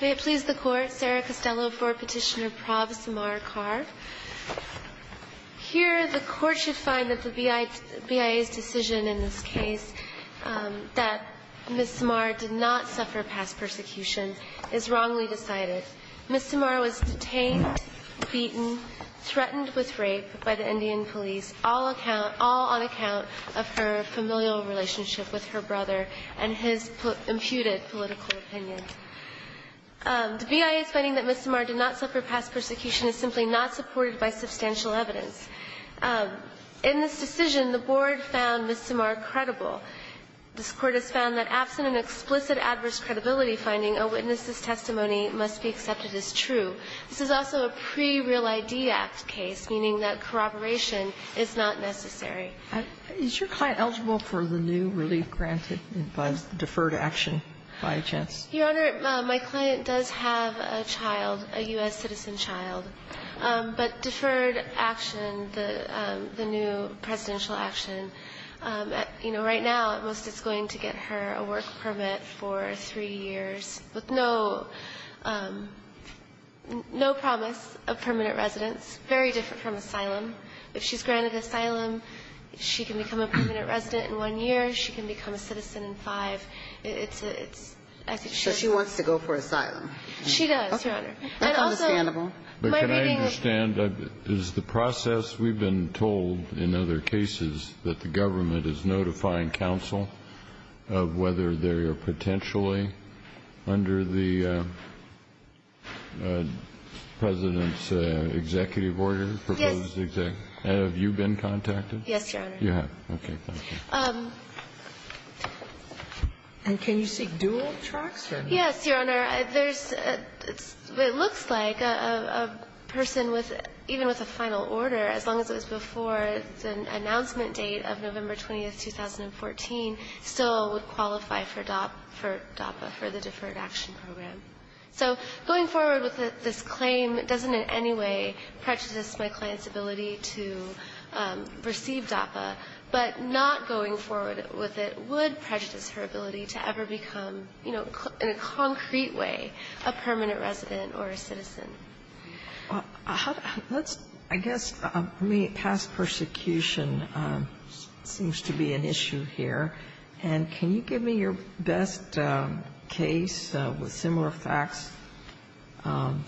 May it please the Court, Sarah Costello v. Petitioner Prabh Sirmar Kaur. Here, the Court should find that the BIA's decision in this case, that Ms. Sirmar did not suffer past persecution, is wrongly decided. Ms. Sirmar was detained, beaten, threatened with rape by the Indian police, all on account of her familial relationship with her brother and his imputed political opinion. The BIA's finding that Ms. Sirmar did not suffer past persecution is simply not supported by substantial evidence. In this decision, the Board found Ms. Sirmar credible. This Court has found that absent an explicit adverse credibility finding, a witness's testimony must be accepted as true. This is also a pre-Real ID Act case, meaning that corroboration is not necessary. Is your client eligible for the new relief granted by deferred action, by chance? Your Honor, my client does have a child, a U.S. citizen child. But deferred action, the new presidential action, you know, right now, the U.S. citizen child, right now, at most, it's going to get her a work permit for three years with no promise of permanent residence, very different from asylum. If she's granted asylum, she can become a permanent resident in one year, she can become a citizen in five. It's a – I think she has to go for asylum. She does, Your Honor. And also, my reading of the process, we've been told in other cases that the government is notifying counsel of whether they are potentially under the President's executive order, proposed executive order. Yes. And have you been contacted? Yes, Your Honor. You have. Okay. Thank you. And can you see dual tracts or not? Yes, Your Honor. There's – it looks like a person with – even with a final order, as long as it was before the announcement date of November 20th, 2014, still would qualify for DAPA, for the Deferred Action Program. So going forward with this claim doesn't in any way prejudice my client's ability to receive DAPA. But not going forward with it would prejudice her ability to ever become, you know, in a concrete way, a permanent resident or a citizen. Well, let's – I guess, I mean, past persecution seems to be an issue here. And can you give me your best case with similar facts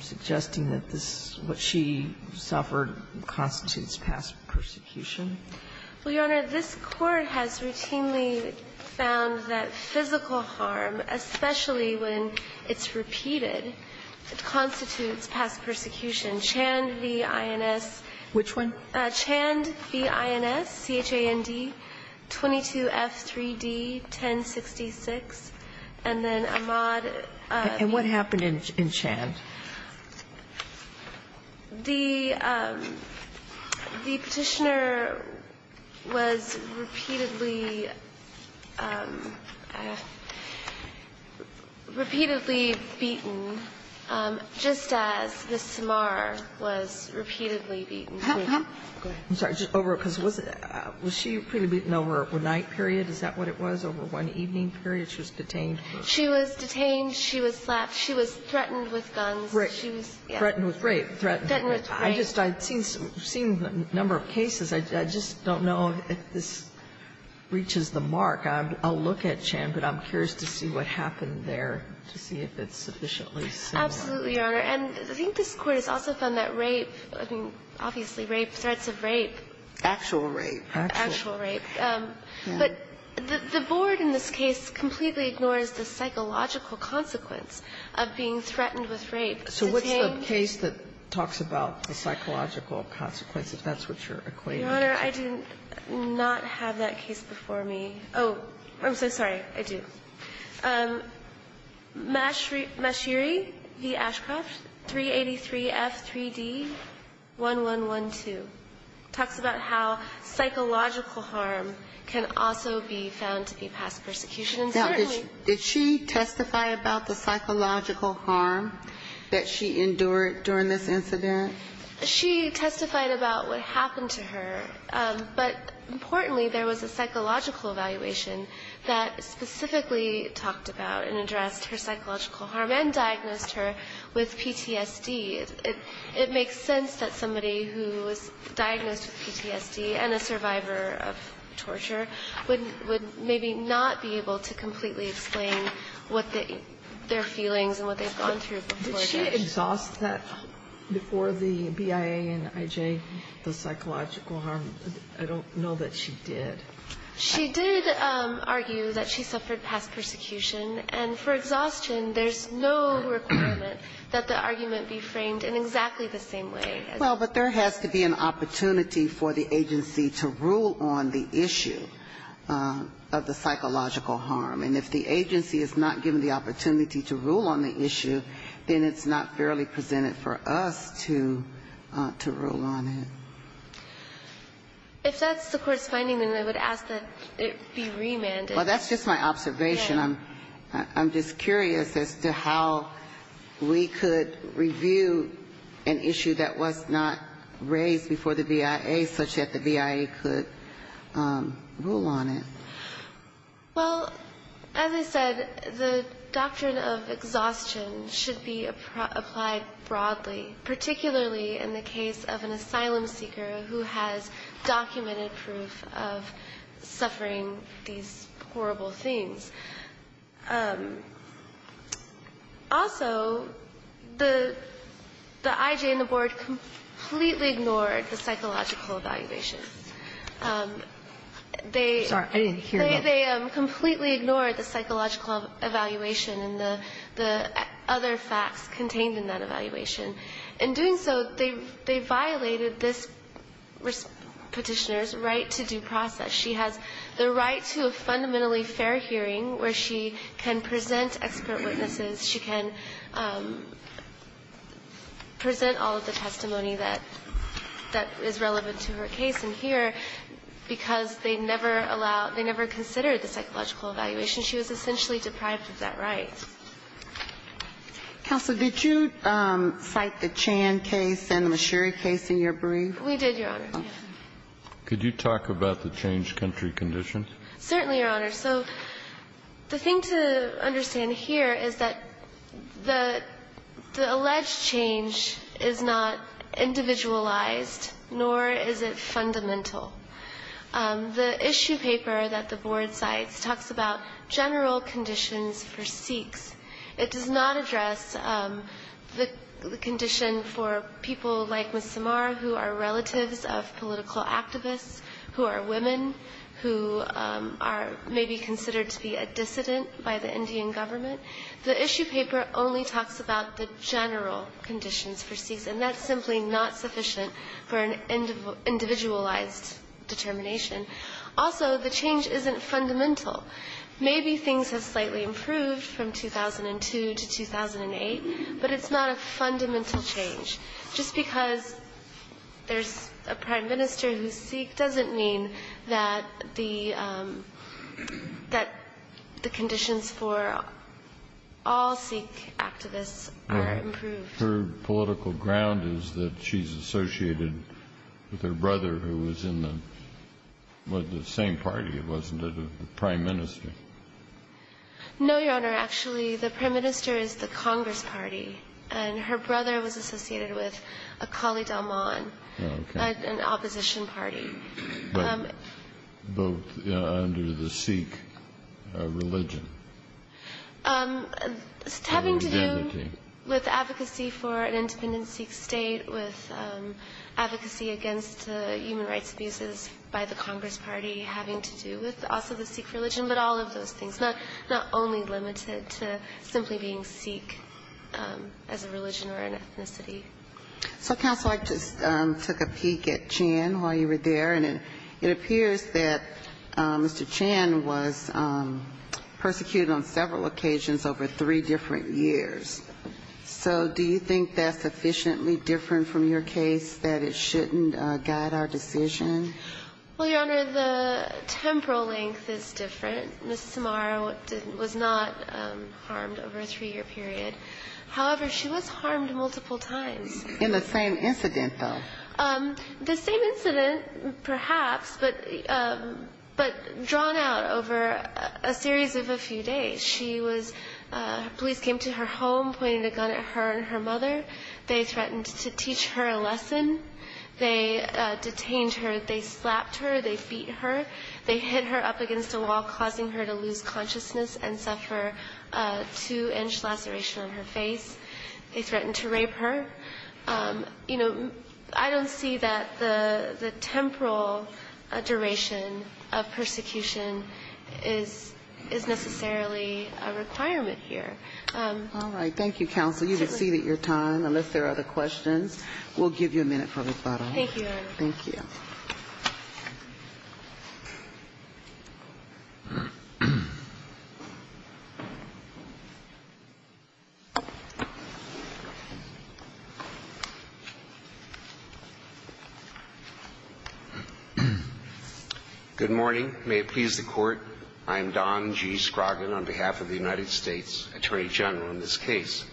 suggesting that this – what she suffered constitutes past persecution? Well, Your Honor, this Court has routinely found that physical harm, especially when it's repeated, constitutes past persecution. Chand v. INS. Which one? Chand v. INS, C-H-A-N-D, 22F3D, 1066. And then Ahmaud v. And what happened in Chand? Repeatedly beaten, just as Ms. Tamar was repeatedly beaten. Go ahead. I'm sorry, just over – because was she repeatedly beaten over a night period? Is that what it was, over one evening period she was detained? She was detained. She was slapped. She was threatened with guns. Threatened with rape. Threatened with rape. I just – I've seen a number of cases. I just don't know if this reaches the mark. I'll look at Chand, but I'm curious to see what happened there to see if it's sufficiently similar. Absolutely, Your Honor. And I think this Court has also found that rape, I mean, obviously rape, threats of rape. Actual rape. Actual rape. But the Board in this case completely ignores the psychological consequence of being threatened with rape. So what's the case that talks about the psychological consequence, if that's what you're equating it to? Your Honor, I did not have that case before me. Oh, I'm so sorry. I do. Mashiri v. Ashcroft, 383F3D1112 talks about how psychological harm can also be found to be past persecution. And certainly – Now, did she testify about the psychological harm that she endured during this incident? She testified about what happened to her. But importantly, there was a psychological evaluation that specifically talked about and addressed her psychological harm and diagnosed her with PTSD. It makes sense that somebody who was diagnosed with PTSD and a survivor of torture would maybe not be able to completely explain what their feelings and what they've gone through before that. Did she exhaust that before the BIA and IJ, the psychological harm? I don't know that she did. She did argue that she suffered past persecution. And for exhaustion, there's no requirement that the argument be framed in exactly the same way. Well, but there has to be an opportunity for the agency to rule on the issue of the psychological harm. And if the agency is not given the opportunity to rule on the issue, then it's not fairly presented for us to rule on it. If that's the Court's finding, then I would ask that it be remanded. Well, that's just my observation. I'm just curious as to how we could review an issue that was not raised before the BIA such that the BIA could rule on it. Well, as I said, the doctrine of exhaustion should be applied broadly, particularly in the case of an asylum seeker who has documented proof of suffering these horrible things. Also, the IJ and the Board completely ignored the psychological evaluation. They completely ignored the psychological evaluation and the other facts contained in that evaluation. In doing so, they violated this Petitioner's right to due process. She has the right to a fundamentally fair hearing where she can present expert witnesses, she can present all of the testimony that is relevant to her case, and she can present all of the evidence that is in here because they never allow the psychological evaluation. She was essentially deprived of that right. Counsel, did you cite the Chan case and the Mashiri case in your brief? We did, Your Honor. Could you talk about the changed country conditions? Certainly, Your Honor. So the thing to understand here is that the alleged change is not individualized nor is it fundamental. The issue paper that the Board cites talks about general conditions for Sikhs. It does not address the condition for people like Ms. Samar, who are relatives of political activists, who are women, who are maybe considered to be a dissident by the Indian government. The issue paper only talks about the general conditions for Sikhs. And that's simply not sufficient for an individualized determination. Also, the change isn't fundamental. Maybe things have slightly improved from 2002 to 2008, but it's not a fundamental change. Just because there's a prime minister who's Sikh doesn't mean that the conditions for all Sikh activists are improved. Her political ground is that she's associated with her brother who was in the same party, wasn't it, of the prime minister? No, Your Honor. Actually, the prime minister is the Congress party. And her brother was associated with a Kali Dalman, an opposition party. Both under the Sikh religion. It's having to do with advocacy for an independent Sikh state, with advocacy against human rights abuses by the Congress party, having to do with also the Sikh religion, but all of those things. Not only limited to simply being Sikh as a religion or an ethnicity. So, Counsel, I just took a peek at Chan while you were there. And it appears that Mr. Chan was persecuted on several occasions over three different years. So do you think that's sufficiently different from your case that it shouldn't guide our decision? Well, Your Honor, the temporal length is different. Ms. Samara was not harmed over a three-year period. However, she was harmed multiple times. In the same incident, though. The same incident, perhaps, but drawn out over a series of a few days. She was, police came to her home, pointed a gun at her and her mother. They threatened to teach her a lesson. They detained her. They slapped her. They beat her. They hit her up against a wall, causing her to lose consciousness and suffer a two-inch laceration on her face. They threatened to rape her. You know, I don't see that the temporal duration of persecution is necessarily a requirement here. All right. Thank you, Counsel. You've exceeded your time, unless there are other questions. We'll give you a minute for rebuttal. Thank you, Your Honor. Thank you. Good morning. May it please the Court. I am Don G. Scroggin on behalf of the United States Attorney General in this case.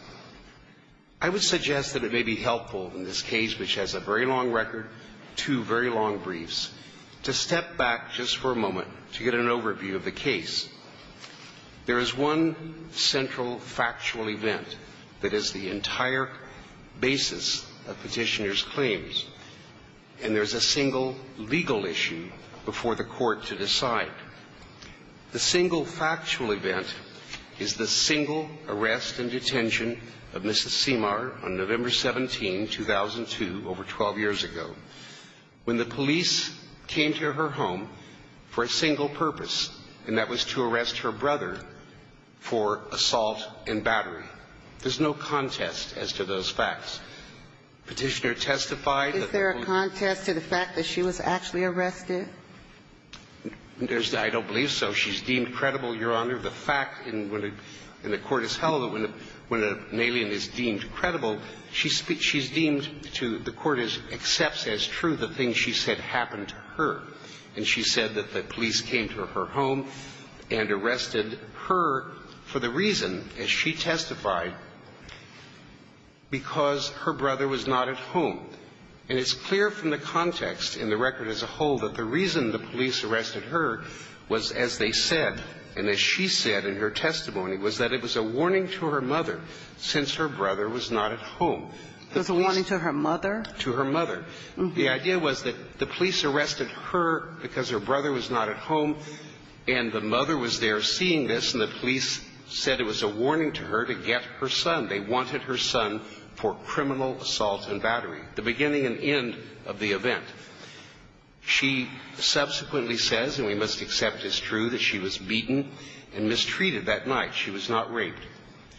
I would suggest that it may be helpful in this case, which has a very long record, two very long briefs, to step back just for a moment to get an overview of the case. There is one central factual event that is the entire basis of Petitioner's claims, and there's a single legal issue before the Court to decide. The single factual event is the single arrest and detention of Mrs. Simar on November 17, 2002, over 12 years ago, when the police came to her home for a single purpose, and that was to arrest her brother for assault and battery. There's no contest as to those facts. Petitioner testified that the police ---- Is there a contest to the fact that she was actually arrested? There's no ---- I don't believe so. She's deemed credible, Your Honor. The fact in the court is held that when an alien is deemed credible, she's deemed to the court as accepts as true the thing she said happened to her, and she said that the police came to her home and arrested her for the reason, as she testified, because her brother was not at home. And it's clear from the context in the record as a whole that the reason the police arrested her was, as they said, and as she said in her testimony, was that it was a warning to her mother, since her brother was not at home. It was a warning to her mother? To her mother. The idea was that the police arrested her because her brother was not at home, and the mother was there seeing this, and the police said it was a warning to her to get her son. They wanted her son for criminal assault and battery, the beginning and end of the event. She subsequently says, and we must accept it's true, that she was beaten and mistreated that night. She was not raped.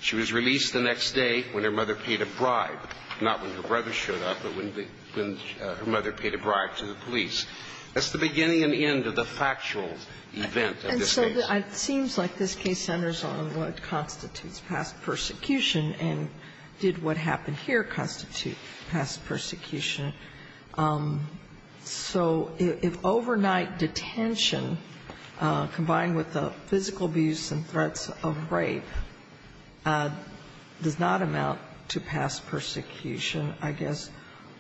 She was released the next day when her mother paid a bribe, not when her brother showed up, but when her mother paid a bribe to the police. That's the beginning and end of the factual event of this case. And so it seems like this case centers on what constitutes past persecution, and did what happened here constitute past persecution? So if overnight detention, combined with the physical abuse and threats of rape, does not amount to past persecution, I guess,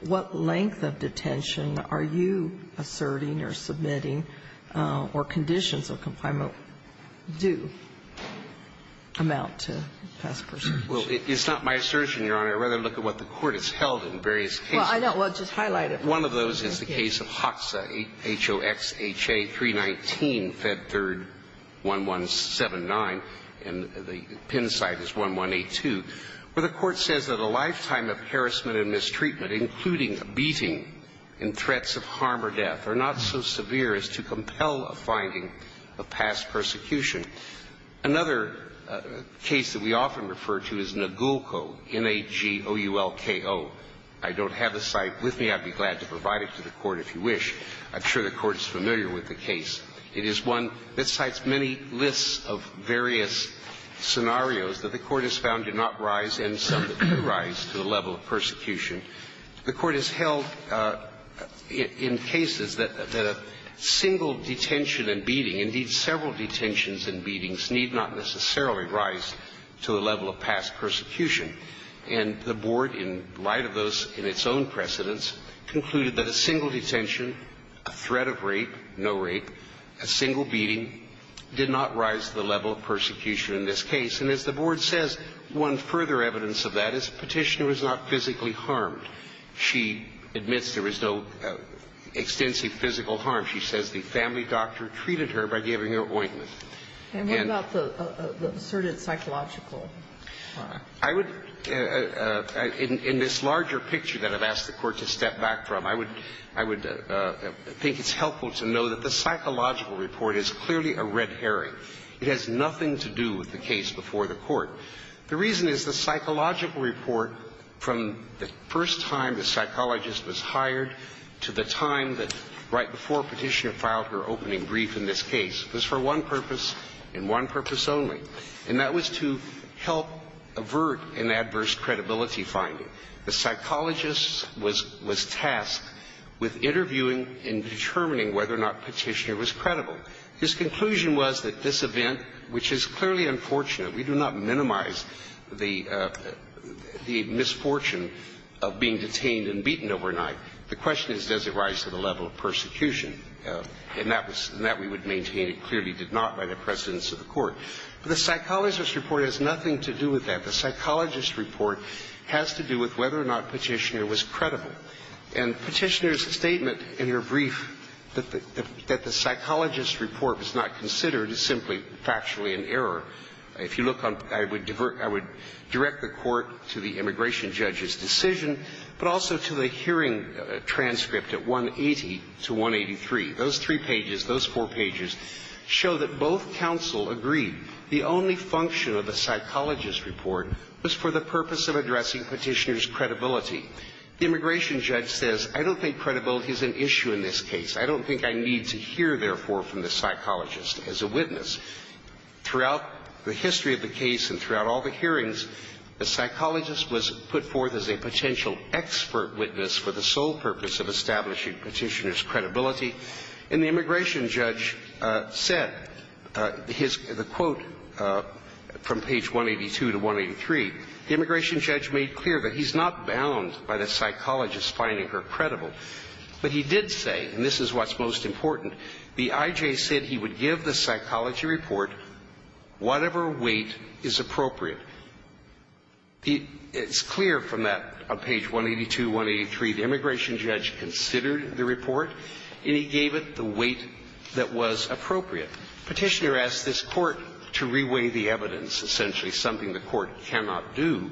what length of detention are you asserting or submitting, or conditions of confinement do amount to past persecution? Well, it's not my assertion, Your Honor. I'd rather look at what the Court has held in various cases. Well, I don't. Well, just highlight it. One of those is the case of Hoxa, H-O-X-H-A 319, Fed 3rd 1179, and the PIN site is 1182, where the Court says that a lifetime of harassment and mistreatment, including beating and threats of harm or death, are not so severe as to compel a finding of past persecution. Another case that we often refer to is Nagulco, N-A-G-O-U-L-K-O. I don't have the site with me. I'd be glad to provide it to the Court, if you wish. I'm sure the Court is familiar with the case. It is one that cites many lists of various scenarios that the Court has found do not rise, and some that do rise, to the level of persecution. The Court has held in cases that a single detention and beating, indeed several detentions and beatings, need not necessarily rise to the level of past persecution. And the Board, in light of those in its own precedents, concluded that a single detention, a threat of rape, no rape, a single beating, did not rise to the level of persecution in this case. And as the Board says, one further evidence of that is the Petitioner is not physically harmed. She admits there is no extensive physical harm. She says the family doctor treated her by giving her ointment. And what about the asserted psychological harm? I would, in this larger picture that I've asked the Court to step back from, I would think it's helpful to know that the psychological report is clearly a red herring. It has nothing to do with the case before the Court. The reason is the psychological report, from the first time the psychologist was hired to the time that, right before Petitioner filed her opening brief in this case, was for one purpose, and one purpose only. And that was to help avert an adverse credibility finding. The psychologist was tasked with interviewing and determining whether or not Petitioner was credible. His conclusion was that this event, which is clearly unfortunate. We do not minimize the misfortune of being detained and beaten overnight. The question is, does it rise to the level of persecution? And that we would maintain it clearly did not by the precedence of the Court. The psychologist's report has nothing to do with that. The psychologist's report has to do with whether or not Petitioner was credible. And Petitioner's statement in her brief that the psychologist's report was not considered is simply factually an error. If you look on, I would direct the Court to the immigration judge's decision, but also to the hearing transcript at 180 to 183. Those three pages, those four pages, show that both counsel agree the only function of the psychologist's report was for the purpose of addressing Petitioner's credibility. The immigration judge says, I don't think credibility is an issue in this case. I don't think I need to hear, therefore, from the psychologist as a witness. Throughout the history of the case and throughout all the hearings, the psychologist was put forth as a potential expert witness for the sole purpose of establishing Petitioner's credibility. And the immigration judge said, the quote from page 182 to 183, the immigration judge made clear that he's not bound by the psychologist finding her credible. But he did say, and this is what's most important, the I.J. said he would give the psychology report whatever weight is appropriate. It's clear from that, on page 182, 183, the immigration judge considered the report, and he gave it the weight that was appropriate. Petitioner asked this Court to reweigh the evidence, essentially something the Court cannot do.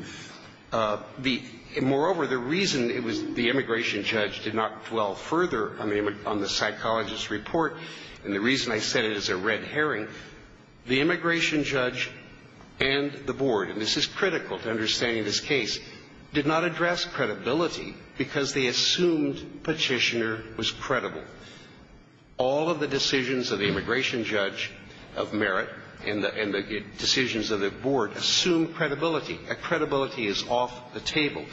Moreover, the reason it was the immigration judge did not dwell further on the psychologist's report, and the reason I said it is a red herring, the immigration judge and the board – and this is critical to understanding this case – did not address credibility because they assumed Petitioner was credible. All of the decisions of the immigration judge of merit and the decisions of the board assume credibility. That credibility is off the table.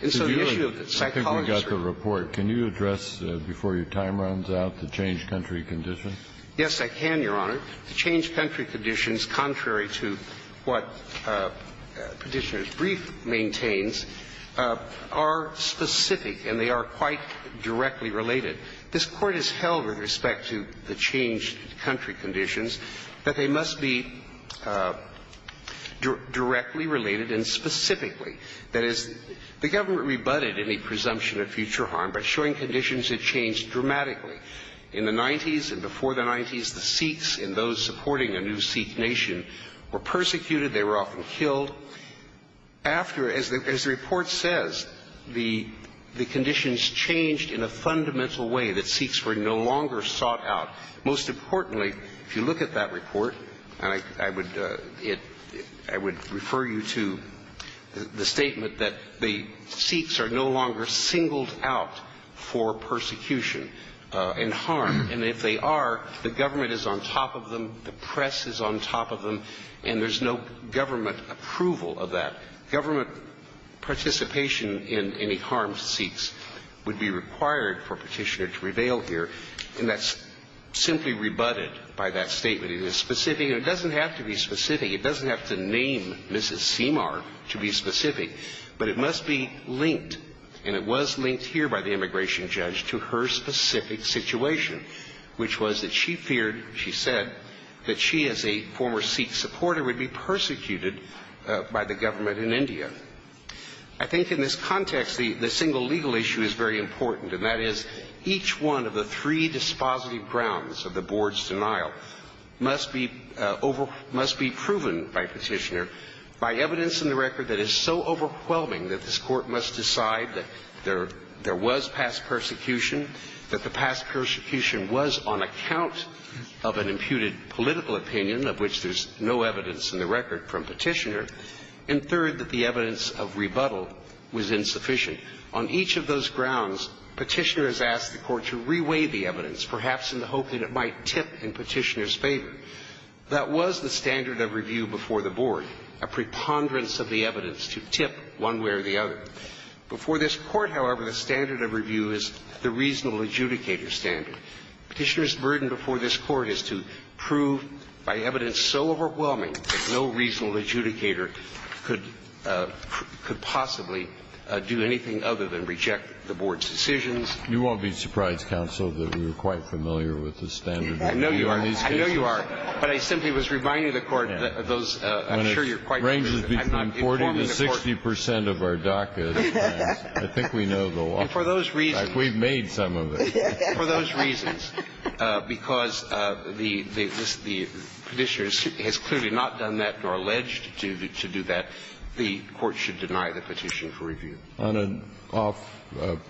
And so the issue of the psychologist's report – Kennedy, I think we got the report. Can you address, before your time runs out, the change country condition? Yes, I can, Your Honor. The change country conditions, contrary to what Petitioner's brief maintains, are specific and they are quite directly related. This Court has held with respect to the change country conditions that they must be directly related and specifically. That is, the government rebutted any presumption of future harm by showing conditions that changed dramatically. In the 90s and before the 90s, the Sikhs and those supporting a new Sikh nation were persecuted. They were often killed. After, as the report says, the conditions changed in a fundamental way that Sikhs were no longer sought out. Most importantly, if you look at that report, and I would refer you to the statement that the Sikhs are no longer singled out for persecution and harm. And if they are, the government is on top of them, the press is on top of them, and there's no government approval of that. Government participation in any harm to Sikhs would be required for Petitioner to reveal here. And that's simply rebutted by that statement. It is specific. It doesn't have to be specific. It doesn't have to name Mrs. Seemar to be specific. But it must be linked, and it was linked here by the immigration judge, to her specific situation, which was that she feared, she said, that she as a former Sikh supporter would be persecuted by the government in India. I think in this context, the single legal issue is very important, and that is each one of the three dispositive grounds of the Board's denial must be proven by Petitioner by evidence in the record that is so overwhelming that this Court must decide that there was past persecution, that the past persecution was on account of an imputed political opinion, of which there's no evidence in the record from Petitioner, and third, that the evidence of rebuttal was insufficient. On each of those grounds, Petitioner has asked the Court to reweigh the evidence, perhaps in the hope that it might tip in Petitioner's favor. That was the standard of review before the Board, a preponderance of the evidence to tip one way or the other. Before this Court, however, the standard of review is the reasonable adjudicator standard. Petitioner's burden before this Court is to prove by evidence so overwhelming that no reasonable adjudicator could possibly do anything other than reject the Board's decisions. You won't be surprised, Counsel, that we were quite familiar with the standard of review on these cases. I know you are. But I simply was reminding the Court that those – I'm sure you're quite familiar with them. When it ranges between 40 to 60 percent of our DACA, I think we know the law. And for those reasons – We've made some of it. For those reasons, because the Petitioner has clearly not done that or alleged to do that, the Court should deny the petition for review. On an off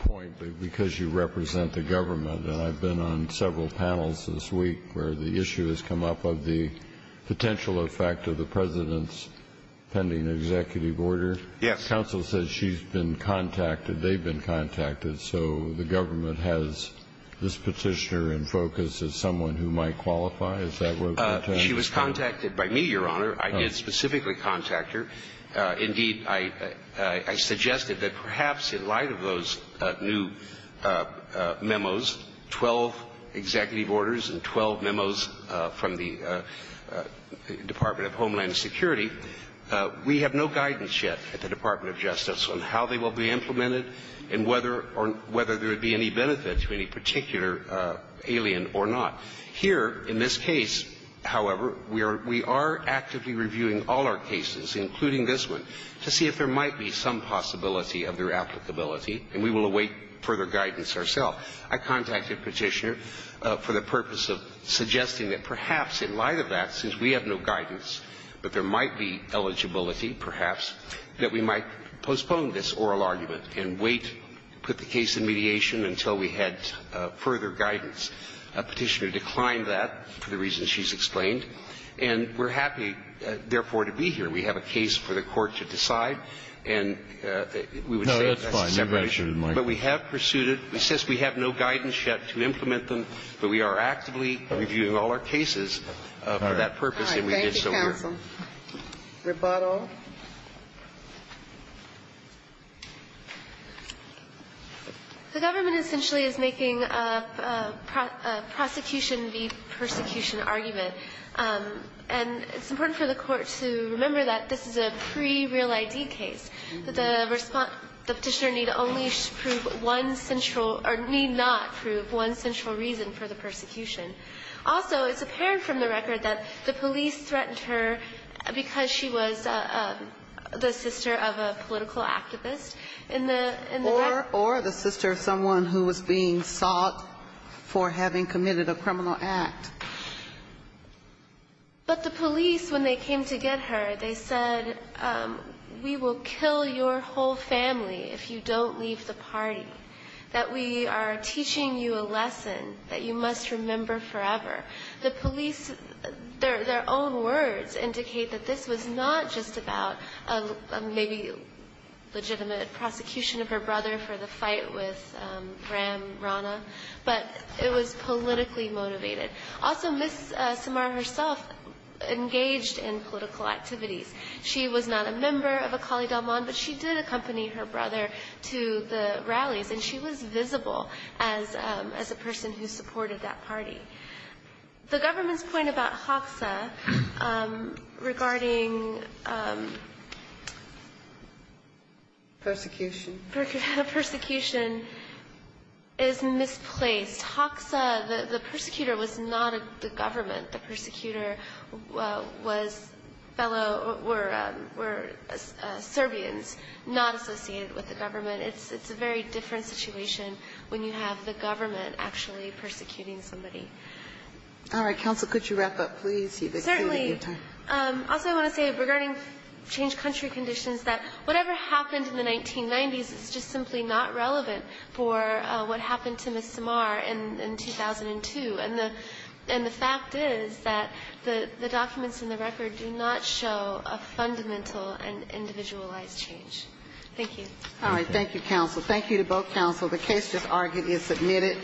point, because you represent the government, and I've been on several panels this week where the issue has come up of the potential effect of the President's pending executive order. Yes. Counsel says she's been contacted, they've been contacted. So the government has this Petitioner in focus as someone who might qualify? Is that what you're saying? She was contacted by me, Your Honor. I did specifically contact her. Indeed, I suggested that perhaps in light of those new memos, 12 executive orders and 12 memos from the Department of Homeland Security, we have no guidance yet at the whether there would be any benefit to any particular alien or not. Here, in this case, however, we are actively reviewing all our cases, including this one, to see if there might be some possibility of their applicability, and we will await further guidance ourselves. I contacted Petitioner for the purpose of suggesting that perhaps in light of that, since we have no guidance, that there might be eligibility, perhaps, that we might postpone this oral argument and wait, put the case in mediation until we had further guidance. Petitioner declined that for the reasons she's explained, and we're happy, therefore, to be here. We have a case for the Court to decide, and we would say that's a separate issue. No, that's fine. You've already pursued it, Mike. But we have pursued it. It says we have no guidance yet to implement them, but we are actively reviewing all our cases for that purpose, and we did so here. All right. Thank you, counsel. Rebuttal. The government essentially is making a prosecution v. persecution argument. And it's important for the Court to remember that this is a pre-real ID case, that the Petitioner need only prove one central or need not prove one central reason for the persecution. Also, it's apparent from the record that the police threatened her because she was the sister of a political activist in the record. Or the sister of someone who was being sought for having committed a criminal act. But the police, when they came to get her, they said, we will kill your whole family if you don't leave the party, that we are teaching you a lesson that you must remember forever. The police, their own words indicate that this was not just about a maybe legitimate prosecution of her brother for the fight with Ram Rana, but it was politically motivated. Also, Ms. Samara herself engaged in political activities. She was not a member of Akali Dalman, but she did accompany her brother to the rallies, and she was visible as a person who supported that party. The government's point about HACSA regarding the persecution is misplaced. HACSA, the persecutor was not the government. The persecutor was fellow, were Serbians, not associated with the government. It's a very different situation when you have the government actually persecuting somebody. All right. Counsel, could you wrap up, please? You've exceeded your time. Certainly. Also, I want to say, regarding changed country conditions, that whatever happened in the 1990s is just simply not relevant for what happened to Ms. Samara in 2002. And the fact is that the documents in the record do not show a fundamental and individualized change. Thank you. All right. Thank you, counsel. Thank you to both counsel. The case just argued is submitted.